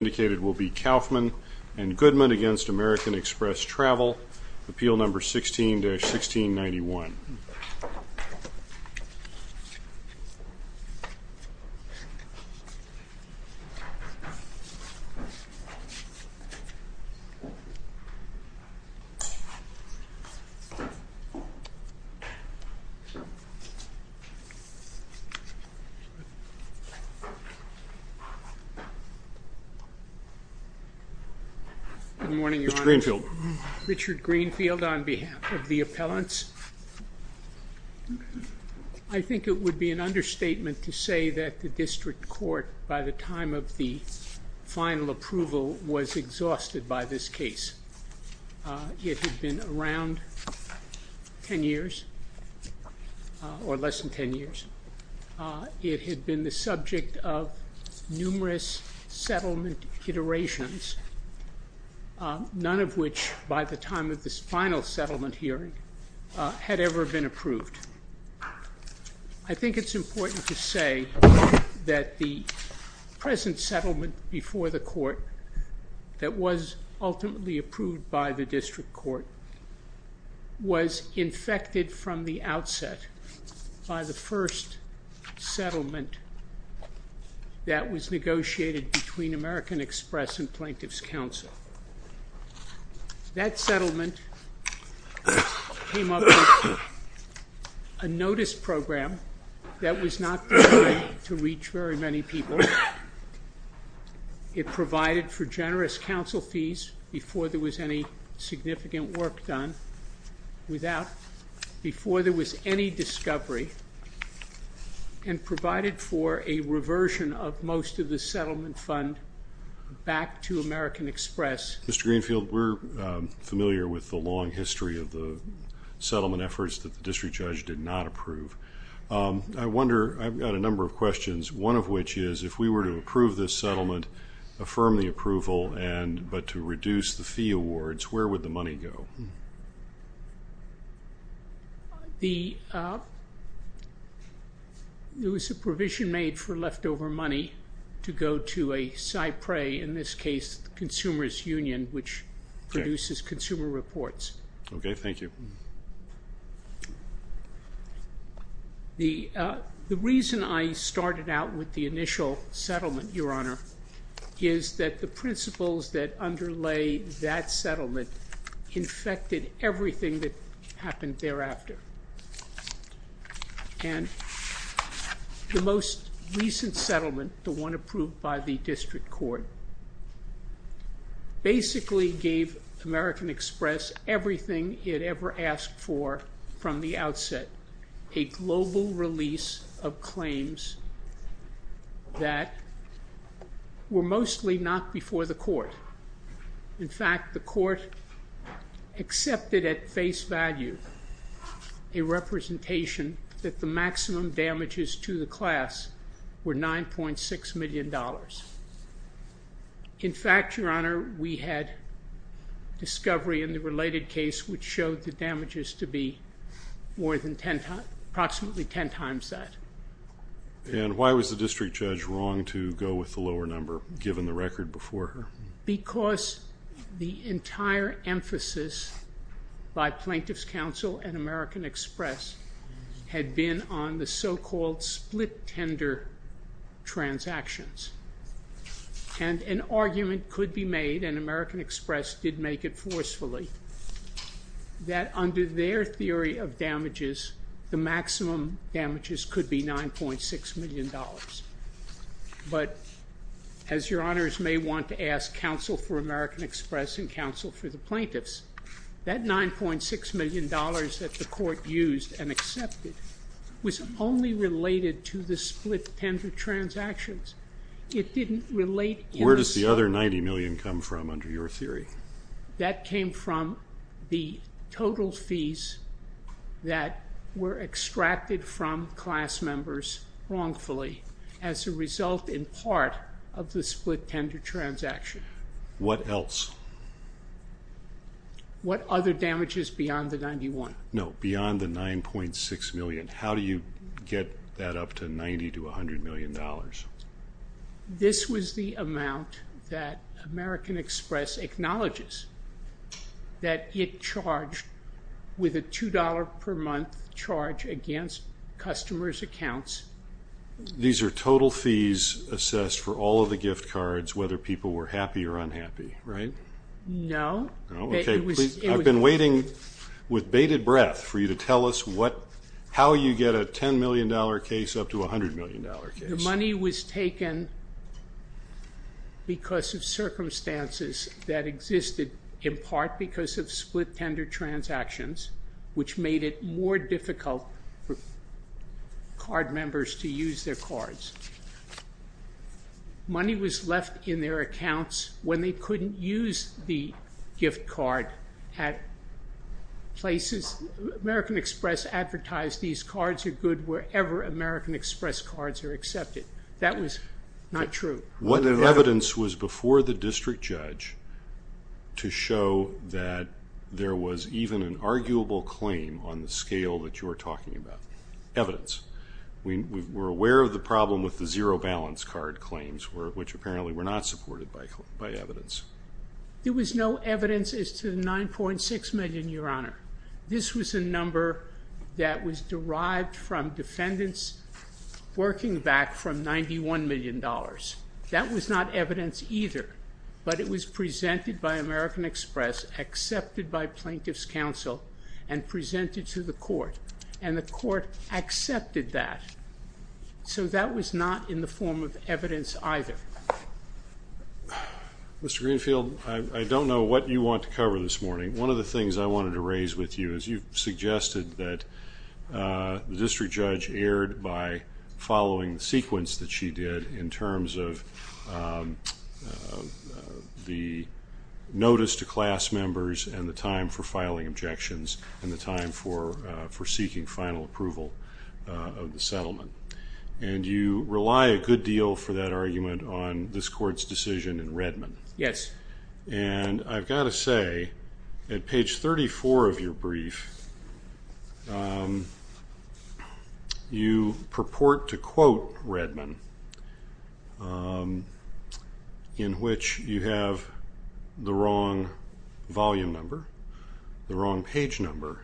Indicated will be Kaufman and Goodman against American Express Travel, Appeal No. 16-1691. Good morning, Your Honor. Mr. Greenfield. Richard Greenfield on behalf of the appellants. I think it would be an understatement to say that the district court, by the time of the final approval, was exhausted by this case. It had been around ten years, or less than ten years. It had been the subject of numerous settlement iterations, none of which, by the time of this final settlement hearing, had ever been approved. I think it's important to say that the present settlement before the court, that was ultimately approved by the district court, was infected from the outset by the first settlement that was negotiated between American Express and Plaintiff's Counsel. That settlement came up with a notice program that was not designed to reach very many people. It provided for generous counsel fees before there was any significant work done, before there was any discovery, and provided for a reversion of most of the settlement fund back to American Express. Mr. Greenfield, we're familiar with the long history of the settlement efforts that the district judge did not approve. I've got a number of questions, one of which is, if we were to approve this settlement, affirm the approval, but to reduce the fee awards, where would the money go? There was a provision made for leftover money to go to a Cypre, in this case, the Consumer's Union, which produces consumer reports. Okay, thank you. The reason I started out with the initial settlement, Your Honor, is that the principles that underlay that settlement infected everything that happened thereafter. And the most recent settlement, the one approved by the district court, basically gave American Express everything it ever asked for from the outset. A global release of claims that were mostly not before the court. In fact, the court accepted at face value a representation that the maximum damages to the class were $9.6 million. In fact, Your Honor, we had discovery in the related case which showed the damages to be more than ten times, approximately ten times that. And why was the district judge wrong to go with the lower number, given the record before her? Because the entire emphasis by Plaintiff's Counsel and American Express had been on the so-called split tender transactions. And an argument could be made, and American Express did make it forcefully, that under their theory of damages, the maximum damages could be $9.6 million. But, as Your Honors may want to ask counsel for American Express and counsel for the plaintiffs, that $9.6 million that the court used and accepted was only related to the split tender transactions. It didn't relate. Where does the other $90 million come from under your theory? That came from the total fees that were extracted from class members wrongfully, as a result in part of the split tender transaction. What else? What other damages beyond the $91? No, beyond the $9.6 million. How do you get that up to $90 to $100 million? This was the amount that American Express acknowledges that it charged with a $2 per month charge against customers' accounts. These are total fees assessed for all of the gift cards, whether people were happy or unhappy, right? No. I've been waiting with bated breath for you to tell us how you get a $10 million case up to a $100 million case. The money was taken because of circumstances that existed, in part because of split tender transactions, which made it more difficult for card members to use their cards. Money was left in their accounts when they couldn't use the gift card at places. American Express advertised these cards are good wherever American Express cards are accepted. That was not true. What evidence was before the district judge to show that there was even an arguable claim on the scale that you're talking about? Evidence. We're aware of the problem with the zero balance card claims, which apparently were not supported by evidence. There was no evidence as to the $9.6 million, Your Honor. This was a number that was derived from defendants working back from $91 million. That was not evidence either, but it was presented by American Express, accepted by plaintiffs' counsel, and presented to the court. And the court accepted that. So that was not in the form of evidence either. Mr. Greenfield, I don't know what you want to cover this morning. One of the things I wanted to raise with you is you've suggested that the district judge erred by following the sequence that she did in terms of the notice to class members and the time for filing objections and the time for seeking final approval of the settlement. And you rely a good deal for that argument on this court's decision in Redmond. Yes. And I've got to say, at page 34 of your brief, you purport to quote Redmond, in which you have the wrong volume number, the wrong page number,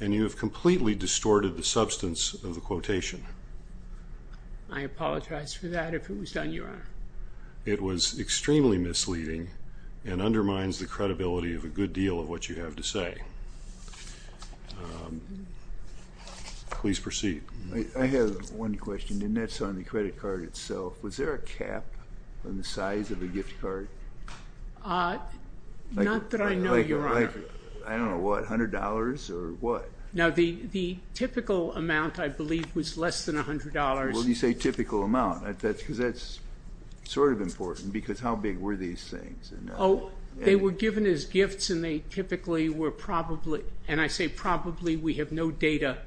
and you have completely distorted the substance of the quotation. I apologize for that, if it was done, Your Honor. It was extremely misleading and undermines the credibility of a good deal of what you have to say. Please proceed. I have one question, and that's on the credit card itself. Was there a cap on the size of the gift card? Not that I know, Your Honor. I don't know what, $100 or what? No, the typical amount, I believe, was less than $100. When you say typical amount, because that's sort of important, because how big were these things? Oh, they were given as gifts, and they typically were probably, and I say probably, we have no data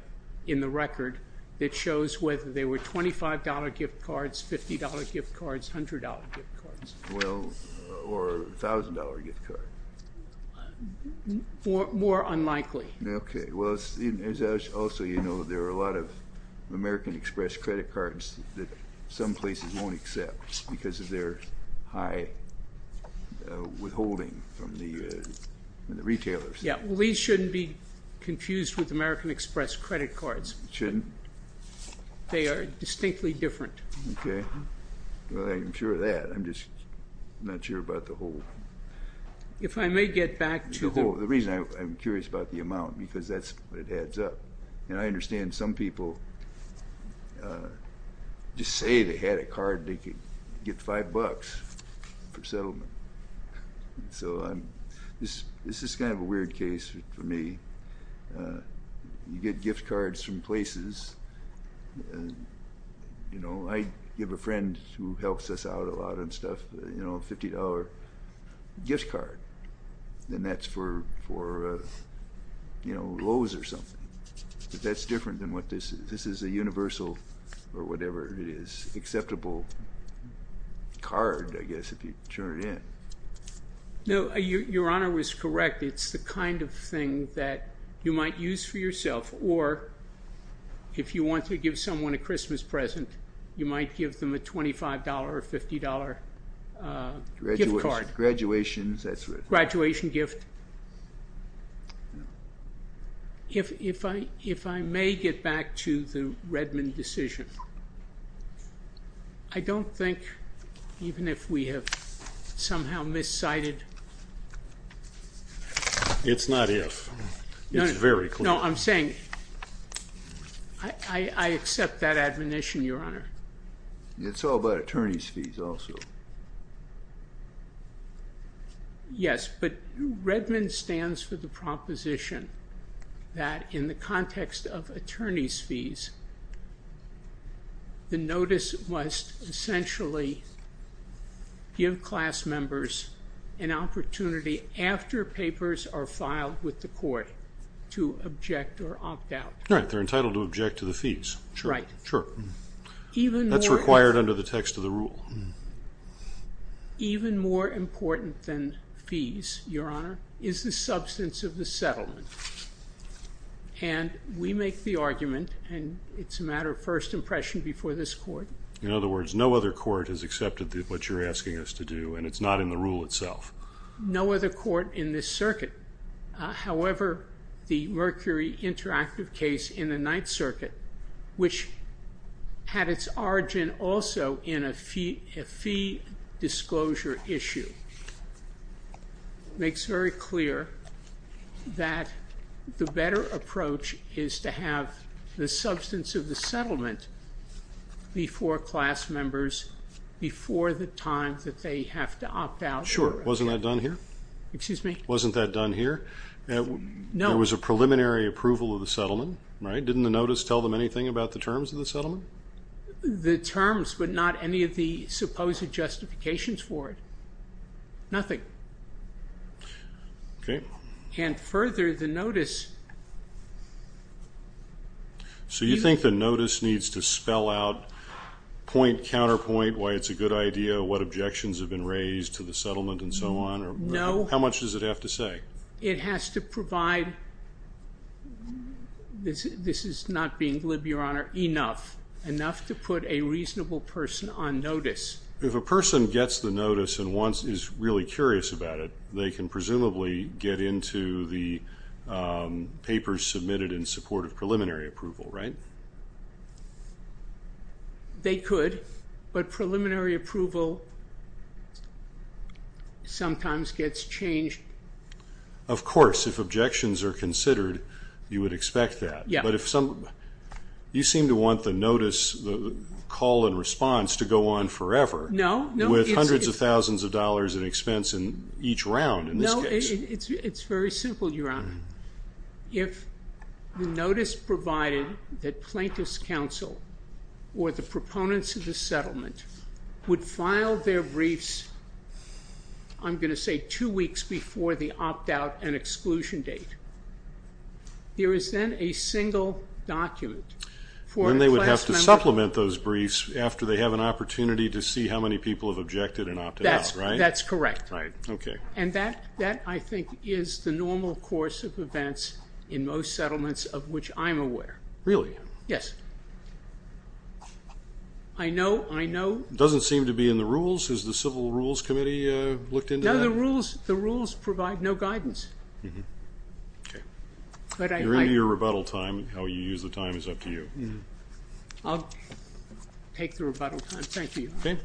in the record that shows whether they were $25 gift cards, or a $1,000 gift card. More unlikely. Okay, well, as also you know, there are a lot of American Express credit cards that some places won't accept because of their high withholding from the retailers. Yeah, well, these shouldn't be confused with American Express credit cards. Shouldn't? They are distinctly different. Okay. Well, I'm sure of that. I'm just not sure about the whole. If I may get back to the whole. The reason I'm curious about the amount, because that's what adds up. And I understand some people just say they had a card they could get $5 for settlement. So this is kind of a weird case for me. You get gift cards from places. You know, I have a friend who helps us out a lot on stuff, you know, $50 gift card, and that's for, you know, Lowe's or something. But that's different than what this is. This is a universal, or whatever it is, acceptable card, I guess, if you turn it in. No, Your Honor is correct. It's the kind of thing that you might use for yourself. Or if you want to give someone a Christmas present, you might give them a $25 or $50 gift card. Graduation, that's right. Graduation gift. If I may get back to the Redmond decision, I don't think even if we have somehow miscited. It's not if. It's very clear. No, I'm saying I accept that admonition, Your Honor. It's all about attorney's fees also. Yes, but Redmond stands for the proposition that in the context of attorney's fees, the notice must essentially give class members an opportunity after papers are filed with the court to object or opt out. Right. They're entitled to object to the fees. Right. Sure. That's required under the text of the rule. Even more important than fees, Your Honor, is the substance of the settlement. And we make the argument, and it's a matter of first impression before this court. In other words, no other court has accepted what you're asking us to do, and it's not in the rule itself. No other court in this circuit. However, the Mercury Interactive case in the Ninth Circuit, which had its origin also in a fee disclosure issue, makes very clear that the better approach is to have the substance of the settlement before class members, before the time that they have to opt out. Sure. Wasn't that done here? Excuse me? Wasn't that done here? No. There was a preliminary approval of the settlement, right? Didn't the notice tell them anything about the terms of the settlement? The terms, but not any of the supposed justifications for it. Nothing. Okay. And further, the notice. So you think the notice needs to spell out point, counterpoint, why it's a good idea, what objections have been raised to the settlement, and so on? No. How much does it have to say? It has to provide, this is not being glib, Your Honor, enough, enough to put a reasonable person on notice. If a person gets the notice and is really curious about it, they can presumably get into the papers submitted in support of preliminary approval, right? They could, but preliminary approval sometimes gets changed. Of course. If objections are considered, you would expect that. Yeah. But you seem to want the notice, the call and response to go on forever. No. With hundreds of thousands of dollars in expense in each round in this case. No. It's very simple, Your Honor. If the notice provided that plaintiff's counsel or the proponents of the settlement would file their briefs, I'm going to say two weeks before the opt-out and exclusion date, there is then a single document for a class member. Then they would have to supplement those briefs after they have an opportunity to see how many people have objected and opted out, right? That's correct. Right. Okay. And that, I think, is the normal course of events in most settlements of which I'm aware. Really? Yes. I know. It doesn't seem to be in the rules. Has the Civil Rules Committee looked into that? No, the rules provide no guidance. Okay. You're in your rebuttal time. How you use the time is up to you. I'll take the rebuttal time. Thank you, Your Honor. Okay.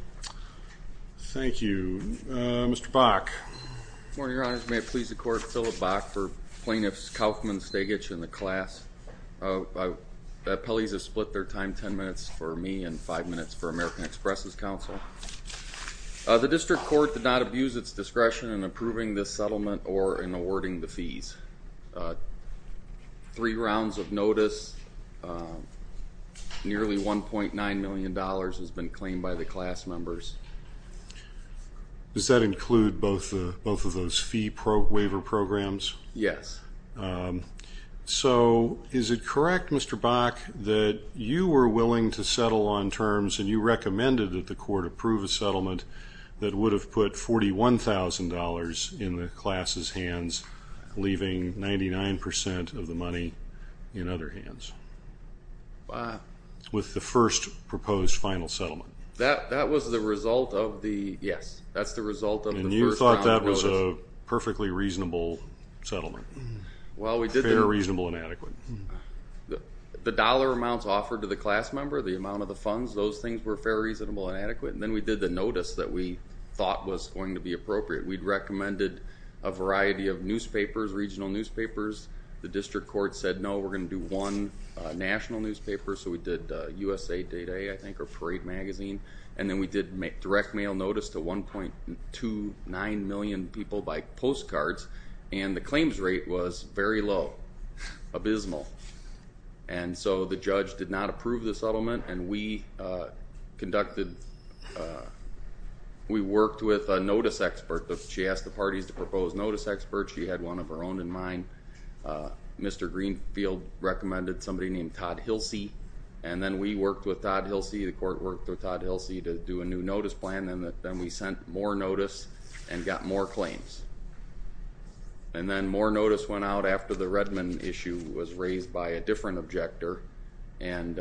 Thank you. Mr. Bach. Good morning, Your Honors. May it please the Court, Philip Bach for plaintiffs Kauffman, Stegich, and the class. Appellees have split their time ten minutes for me and five minutes for American Express' counsel. The district court did not abuse its discretion in approving this settlement or in awarding the fees. Three rounds of notice. Nearly $1.9 million has been claimed by the class members. Does that include both of those fee waiver programs? Yes. So, is it correct, Mr. Bach, that you were willing to settle on terms and you recommended that the court approve a settlement that would have put $41,000 in the class' hands, leaving 99% of the money in other hands with the first proposed final settlement? That was the result of the, yes, that's the result of the first round of notice. And you thought that was a perfectly reasonable settlement? Fairly reasonable and adequate. The dollar amounts offered to the class member, the amount of the funds, those things were fairly reasonable and adequate. And then we did the notice that we thought was going to be appropriate. We'd recommended a variety of newspapers, regional newspapers. The district court said, no, we're going to do one national newspaper. So we did USA Day Day, I think, or Parade Magazine. And then we did direct mail notice to 1.29 million people by postcards. And the claims rate was very low, abysmal. And so the judge did not approve the settlement. And we conducted, we worked with a notice expert. She asked the parties to propose notice experts. She had one of her own in mind. Mr. Greenfield recommended somebody named Todd Hilsey. And then we worked with Todd Hilsey. The court worked with Todd Hilsey to do a new notice plan. And then we sent more notice and got more claims. And then more notice went out after the Redmond issue was raised by a different objector. And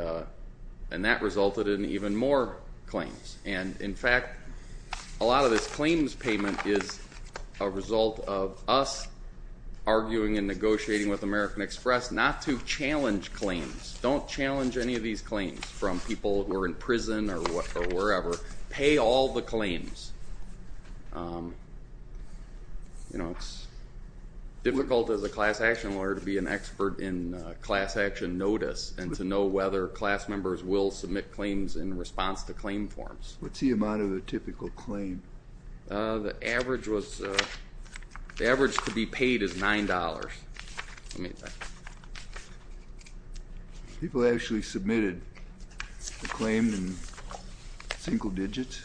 that resulted in even more claims. And, in fact, a lot of this claims payment is a result of us arguing and negotiating with American Express not to challenge claims. Don't challenge any of these claims from people who are in prison or wherever. Pay all the claims. It's difficult as a class action lawyer to be an expert in class action notice and to know whether class members will submit claims in response to claim forms. What's the amount of a typical claim? The average to be paid is $9. People actually submitted a claim in single digits?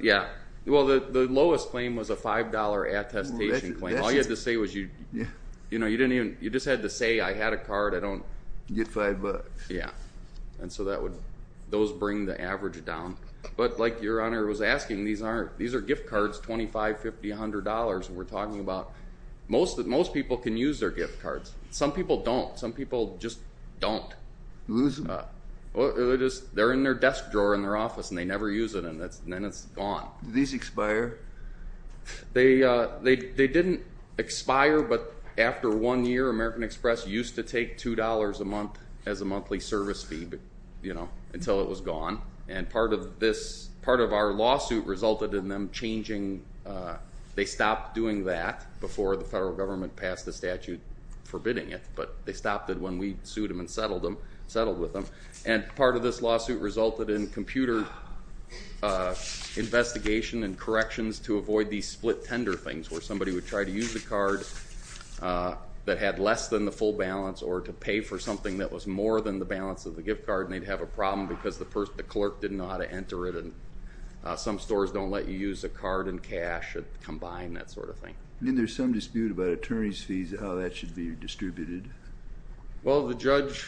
Yeah. Well, the lowest claim was a $5 attestation claim. All you had to say was you just had to say, I had a card. I don't. Get five bucks. Yeah. And so those bring the average down. But like Your Honor was asking, these are gift cards, $25, $50, $100. We're talking about most people can use their gift cards. Some people don't. Some people just don't. They're in their desk drawer in their office, and they never use it, and then it's gone. Do these expire? They didn't expire, but after one year, American Express used to take $2 a month as a monthly service fee until it was gone. And part of our lawsuit resulted in them changing. They stopped doing that before the federal government passed a statute forbidding it, but they stopped it when we sued them and settled with them. And part of this lawsuit resulted in computer investigation and corrections to avoid these split tender things, where somebody would try to use the card that had less than the full balance or to pay for something that was more than the balance of the gift card, and they'd have a problem because the clerk didn't know how to enter it, and some stores don't let you use a card and cash combined, that sort of thing. Then there's some dispute about attorney's fees, how that should be distributed. Well, the judge,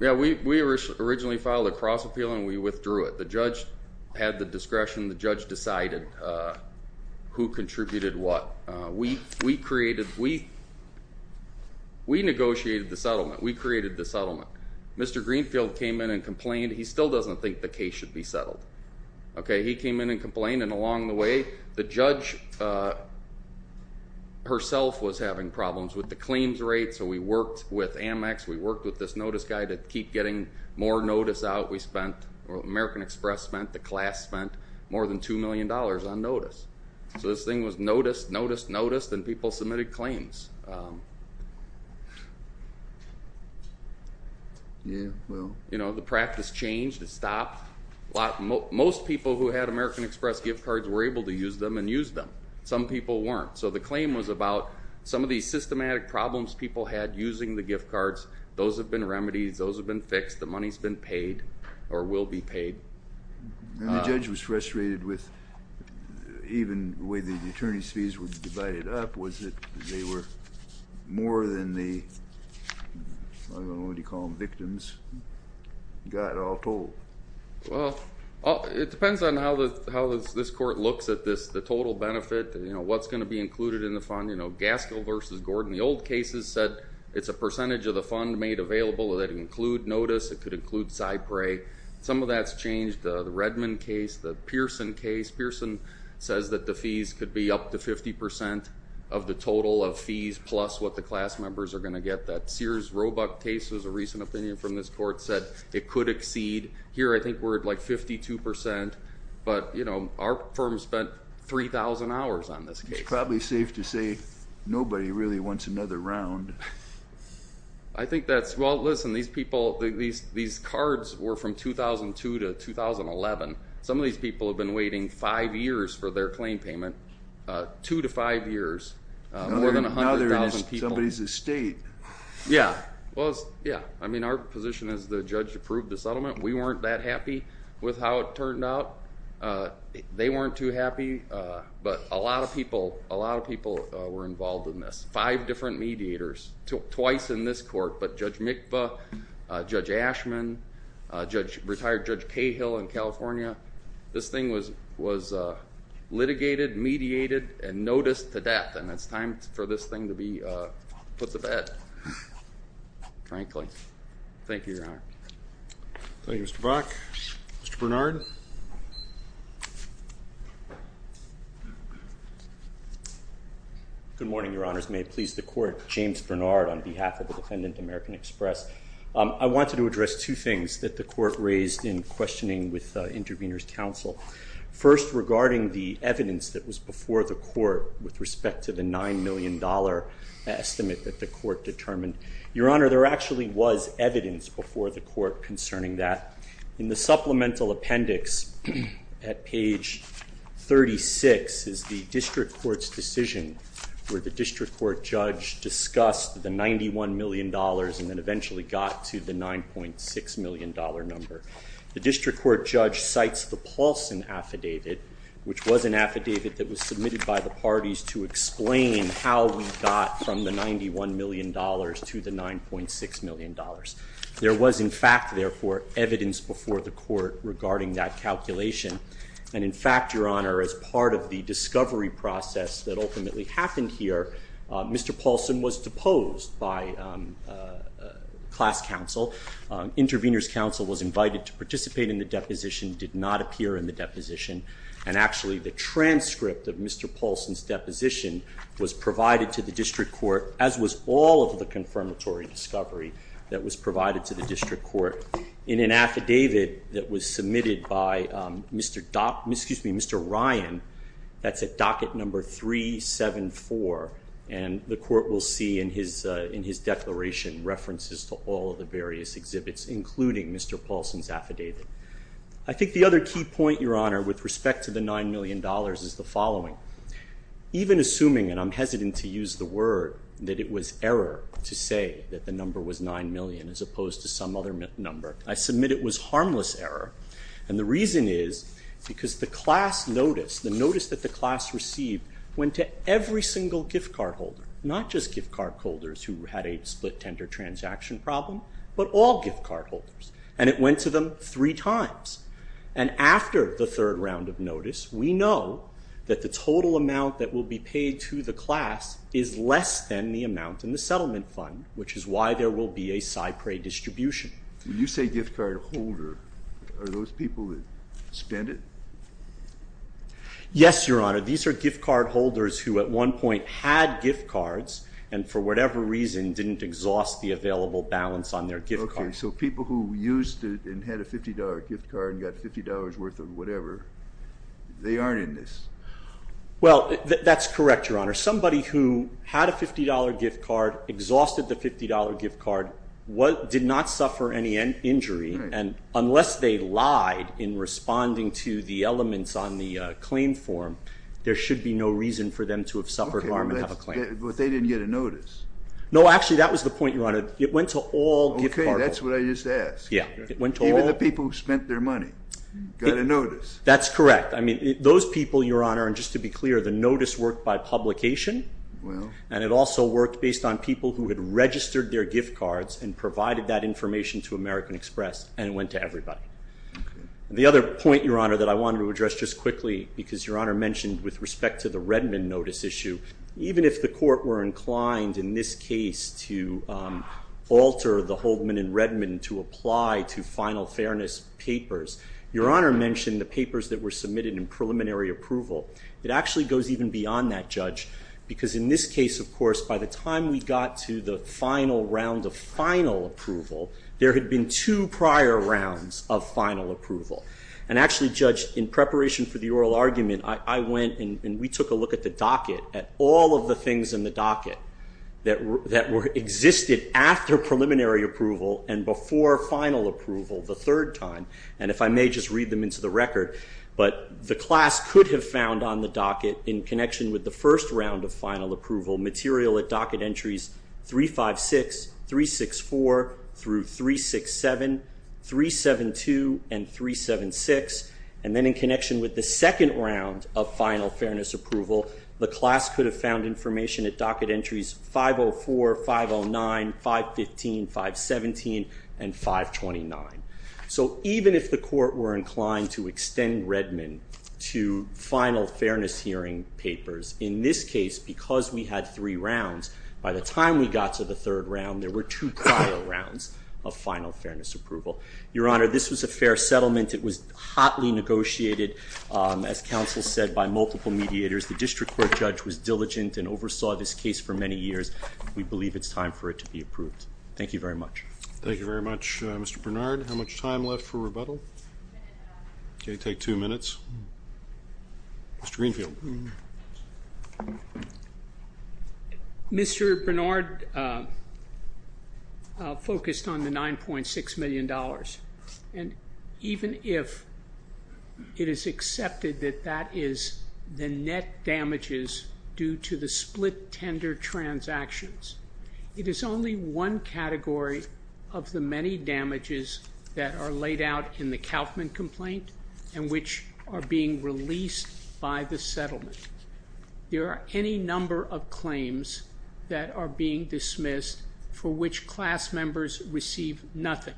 yeah, we originally filed a cross appeal, and we withdrew it. The judge had the discretion. The judge decided who contributed what. We negotiated the settlement. We created the settlement. Mr. Greenfield came in and complained. He still doesn't think the case should be settled. He came in and complained, and along the way the judge herself was having problems with the claims rate, so we worked with Amex, we worked with this notice guy to keep getting more notice out. We spent, American Express spent, the class spent more than $2 million on notice. So this thing was noticed, noticed, noticed, and people submitted claims. The practice changed. It stopped. Most people who had American Express gift cards were able to use them and used them. Some people weren't. So the claim was about some of these systematic problems people had using the gift cards. Those have been remedied. Those have been fixed. The money has been paid or will be paid. The judge was frustrated with even the way the attorney's fees were divided up, was that they were more than the, I don't know what you call them, victims got all told. Well, it depends on how this court looks at this, the total benefit, you know, what's going to be included in the fund. You know, Gaskell v. Gordon, the old cases said it's a percentage of the fund made available that include notice. It could include Cypre. Some of that's changed. The Redmond case, the Pearson case. Pearson says that the fees could be up to 50% of the total of fees plus what the class members are going to get. That Sears Roebuck case was a recent opinion from this court, said it could exceed. Here I think we're at like 52%, but, you know, our firm spent 3,000 hours on this case. It's probably safe to say nobody really wants another round. I think that's, well, listen, these people, these cards were from 2002 to 2011. Some of these people have been waiting five years for their claim payment, two to five years, more than 100,000 people. Now they're in somebody's estate. Yeah, well, yeah, I mean our position is the judge approved the settlement. We weren't that happy with how it turned out. They weren't too happy, but a lot of people were involved in this, five different mediators, twice in this court, but Judge Mikva, Judge Ashman, retired Judge Cahill in California. This thing was litigated, mediated, and noticed to death, and it's time for this thing to be put to bed, frankly. Thank you, Your Honor. Thank you, Mr. Brock. Mr. Bernard. Good morning, Your Honors. May it please the Court. James Bernard on behalf of the Defendant American Express. I wanted to address two things that the Court raised in questioning with Intervenors' Counsel. First, regarding the evidence that was before the Court with respect to the $9 million estimate that the Court determined. Your Honor, there actually was evidence before the Court concerning that. In the supplemental appendix at page 36 is the district court's decision where the district court judge discussed the $91 million and then eventually got to the $9.6 million number. The district court judge cites the Paulson Affidavit, which was an affidavit that was submitted by the parties to explain how we got from the $91 million to the $9.6 million. There was, in fact, therefore, evidence before the Court regarding that calculation, and in fact, Your Honor, as part of the discovery process that ultimately happened here, Mr. Paulson was deposed by class counsel. Intervenors' Counsel was invited to participate in the deposition, did not appear in the deposition, and actually the transcript of Mr. Paulson's deposition was provided to the district court, as was all of the confirmatory discovery that was provided to the district court, in an affidavit that was submitted by Mr. Ryan, that's at docket number 374, and the Court will see in his declaration references to all of the various exhibits, including Mr. Paulson's affidavit. I think the other key point, Your Honor, with respect to the $9 million is the following. Even assuming, and I'm hesitant to use the word, that it was error to say that the number was $9 million, as opposed to some other number, I submit it was harmless error, and the reason is because the class notice, the notice that the class received, went to every single gift card holder, not just gift card holders who had a split tender transaction problem, but all gift card holders, and it went to them three times, and after the third round of notice, we know that the total amount that will be paid to the class is less than the amount in the settlement fund, which is why there will be a SIPRE distribution. When you say gift card holder, are those people that spend it? Yes, Your Honor, these are gift card holders who at one point had gift cards, and for whatever reason didn't exhaust the available balance on their gift card. Okay, so people who used it and had a $50 gift card and got $50 worth of whatever, they aren't in this. Well, that's correct, Your Honor. Somebody who had a $50 gift card, exhausted the $50 gift card, did not suffer any injury, and unless they lied in responding to the elements on the claim form, there should be no reason for them to have suffered harm and have a claim. Okay, but they didn't get a notice. No, actually, that was the point, Your Honor. It went to all gift card holders. Okay, that's what I just asked. Even the people who spent their money got a notice. That's correct. I mean, those people, Your Honor, and just to be clear, the notice worked by publication, and it also worked based on people who had registered their gift cards and provided that information to American Express, and it went to everybody. The other point, Your Honor, that I wanted to address just quickly, because Your Honor mentioned with respect to the Redmond notice issue, even if the court were inclined in this case to alter the Holdman and Redmond to apply to final fairness papers, Your Honor mentioned the papers that were submitted in preliminary approval. It actually goes even beyond that, Judge, because in this case, of course, by the time we got to the final round of final approval, there had been two prior rounds of final approval, and actually, Judge, in preparation for the oral argument, I went and we took a look at the docket, at all of the things in the docket that existed after preliminary approval and before final approval the third time, and if I may just read them into the record, but the class could have found on the docket, in connection with the first round of final approval, material at docket entries 356, 364, through 367, 372, and 376, and then in connection with the second round of final fairness approval, the class could have found information at docket entries 504, 509, 515, 517, and 529. So even if the court were inclined to extend Redmond to final fairness hearing papers, in this case, because we had three rounds, by the time we got to the third round, there were two prior rounds of final fairness approval. Your Honor, this was a fair settlement. It was hotly negotiated, as counsel said, by multiple mediators. The district court judge was diligent and oversaw this case for many years. We believe it's time for it to be approved. Thank you very much. Thank you very much, Mr. Bernard. How much time left for rebuttal? Okay, take two minutes. Mr. Greenfield. Mr. Bernard focused on the $9.6 million, and even if it is accepted that that is the net damages due to the split tender transactions, it is only one category of the many damages that are laid out in the Kauffman complaint and which are being released by the settlement. There are any number of claims that are being dismissed for which class members receive nothing.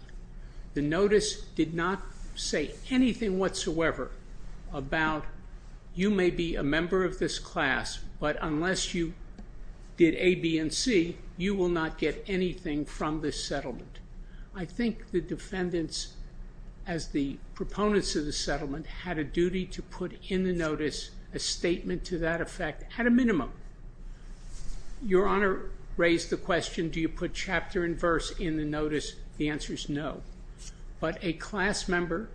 The notice did not say anything whatsoever about, you may be a member of this class, but unless you did A, B, and C, you will not get anything from this settlement. I think the defendants, as the proponents of the settlement, had a duty to put in the notice a statement to that effect at a minimum. Your Honor raised the question, do you put chapter and verse in the notice? The answer is no. But a class member,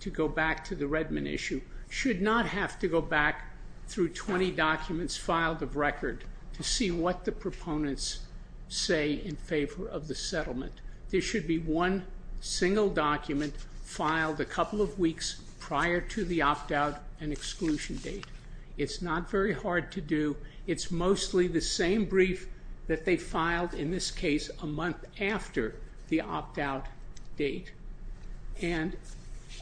to go back to the Redmond issue, should not have to go back through 20 documents filed of record to see what the proponents say in favor of the settlement. There should be one single document filed a couple of weeks prior to the opt-out and exclusion date. It's not very hard to do. It's mostly the same brief that they filed, in this case, a month after the opt-out date. And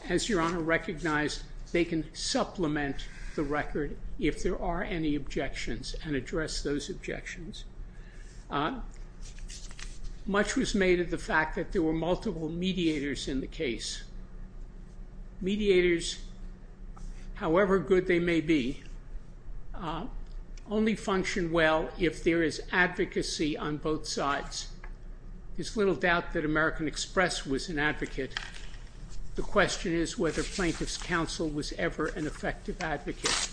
as Your Honor recognized, they can supplement the record if there are any objections and address those objections. Much was made of the fact that there were multiple mediators in the case. Mediators, however good they may be, only function well if there is advocacy on both sides. There's little doubt that American Express was an advocate. The question is whether Plaintiff's Counsel was ever an effective advocate,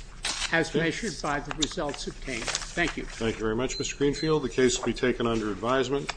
as measured by the results obtained. Thank you. Thank you very much, Mr. Greenfield. The case will be taken under advisement.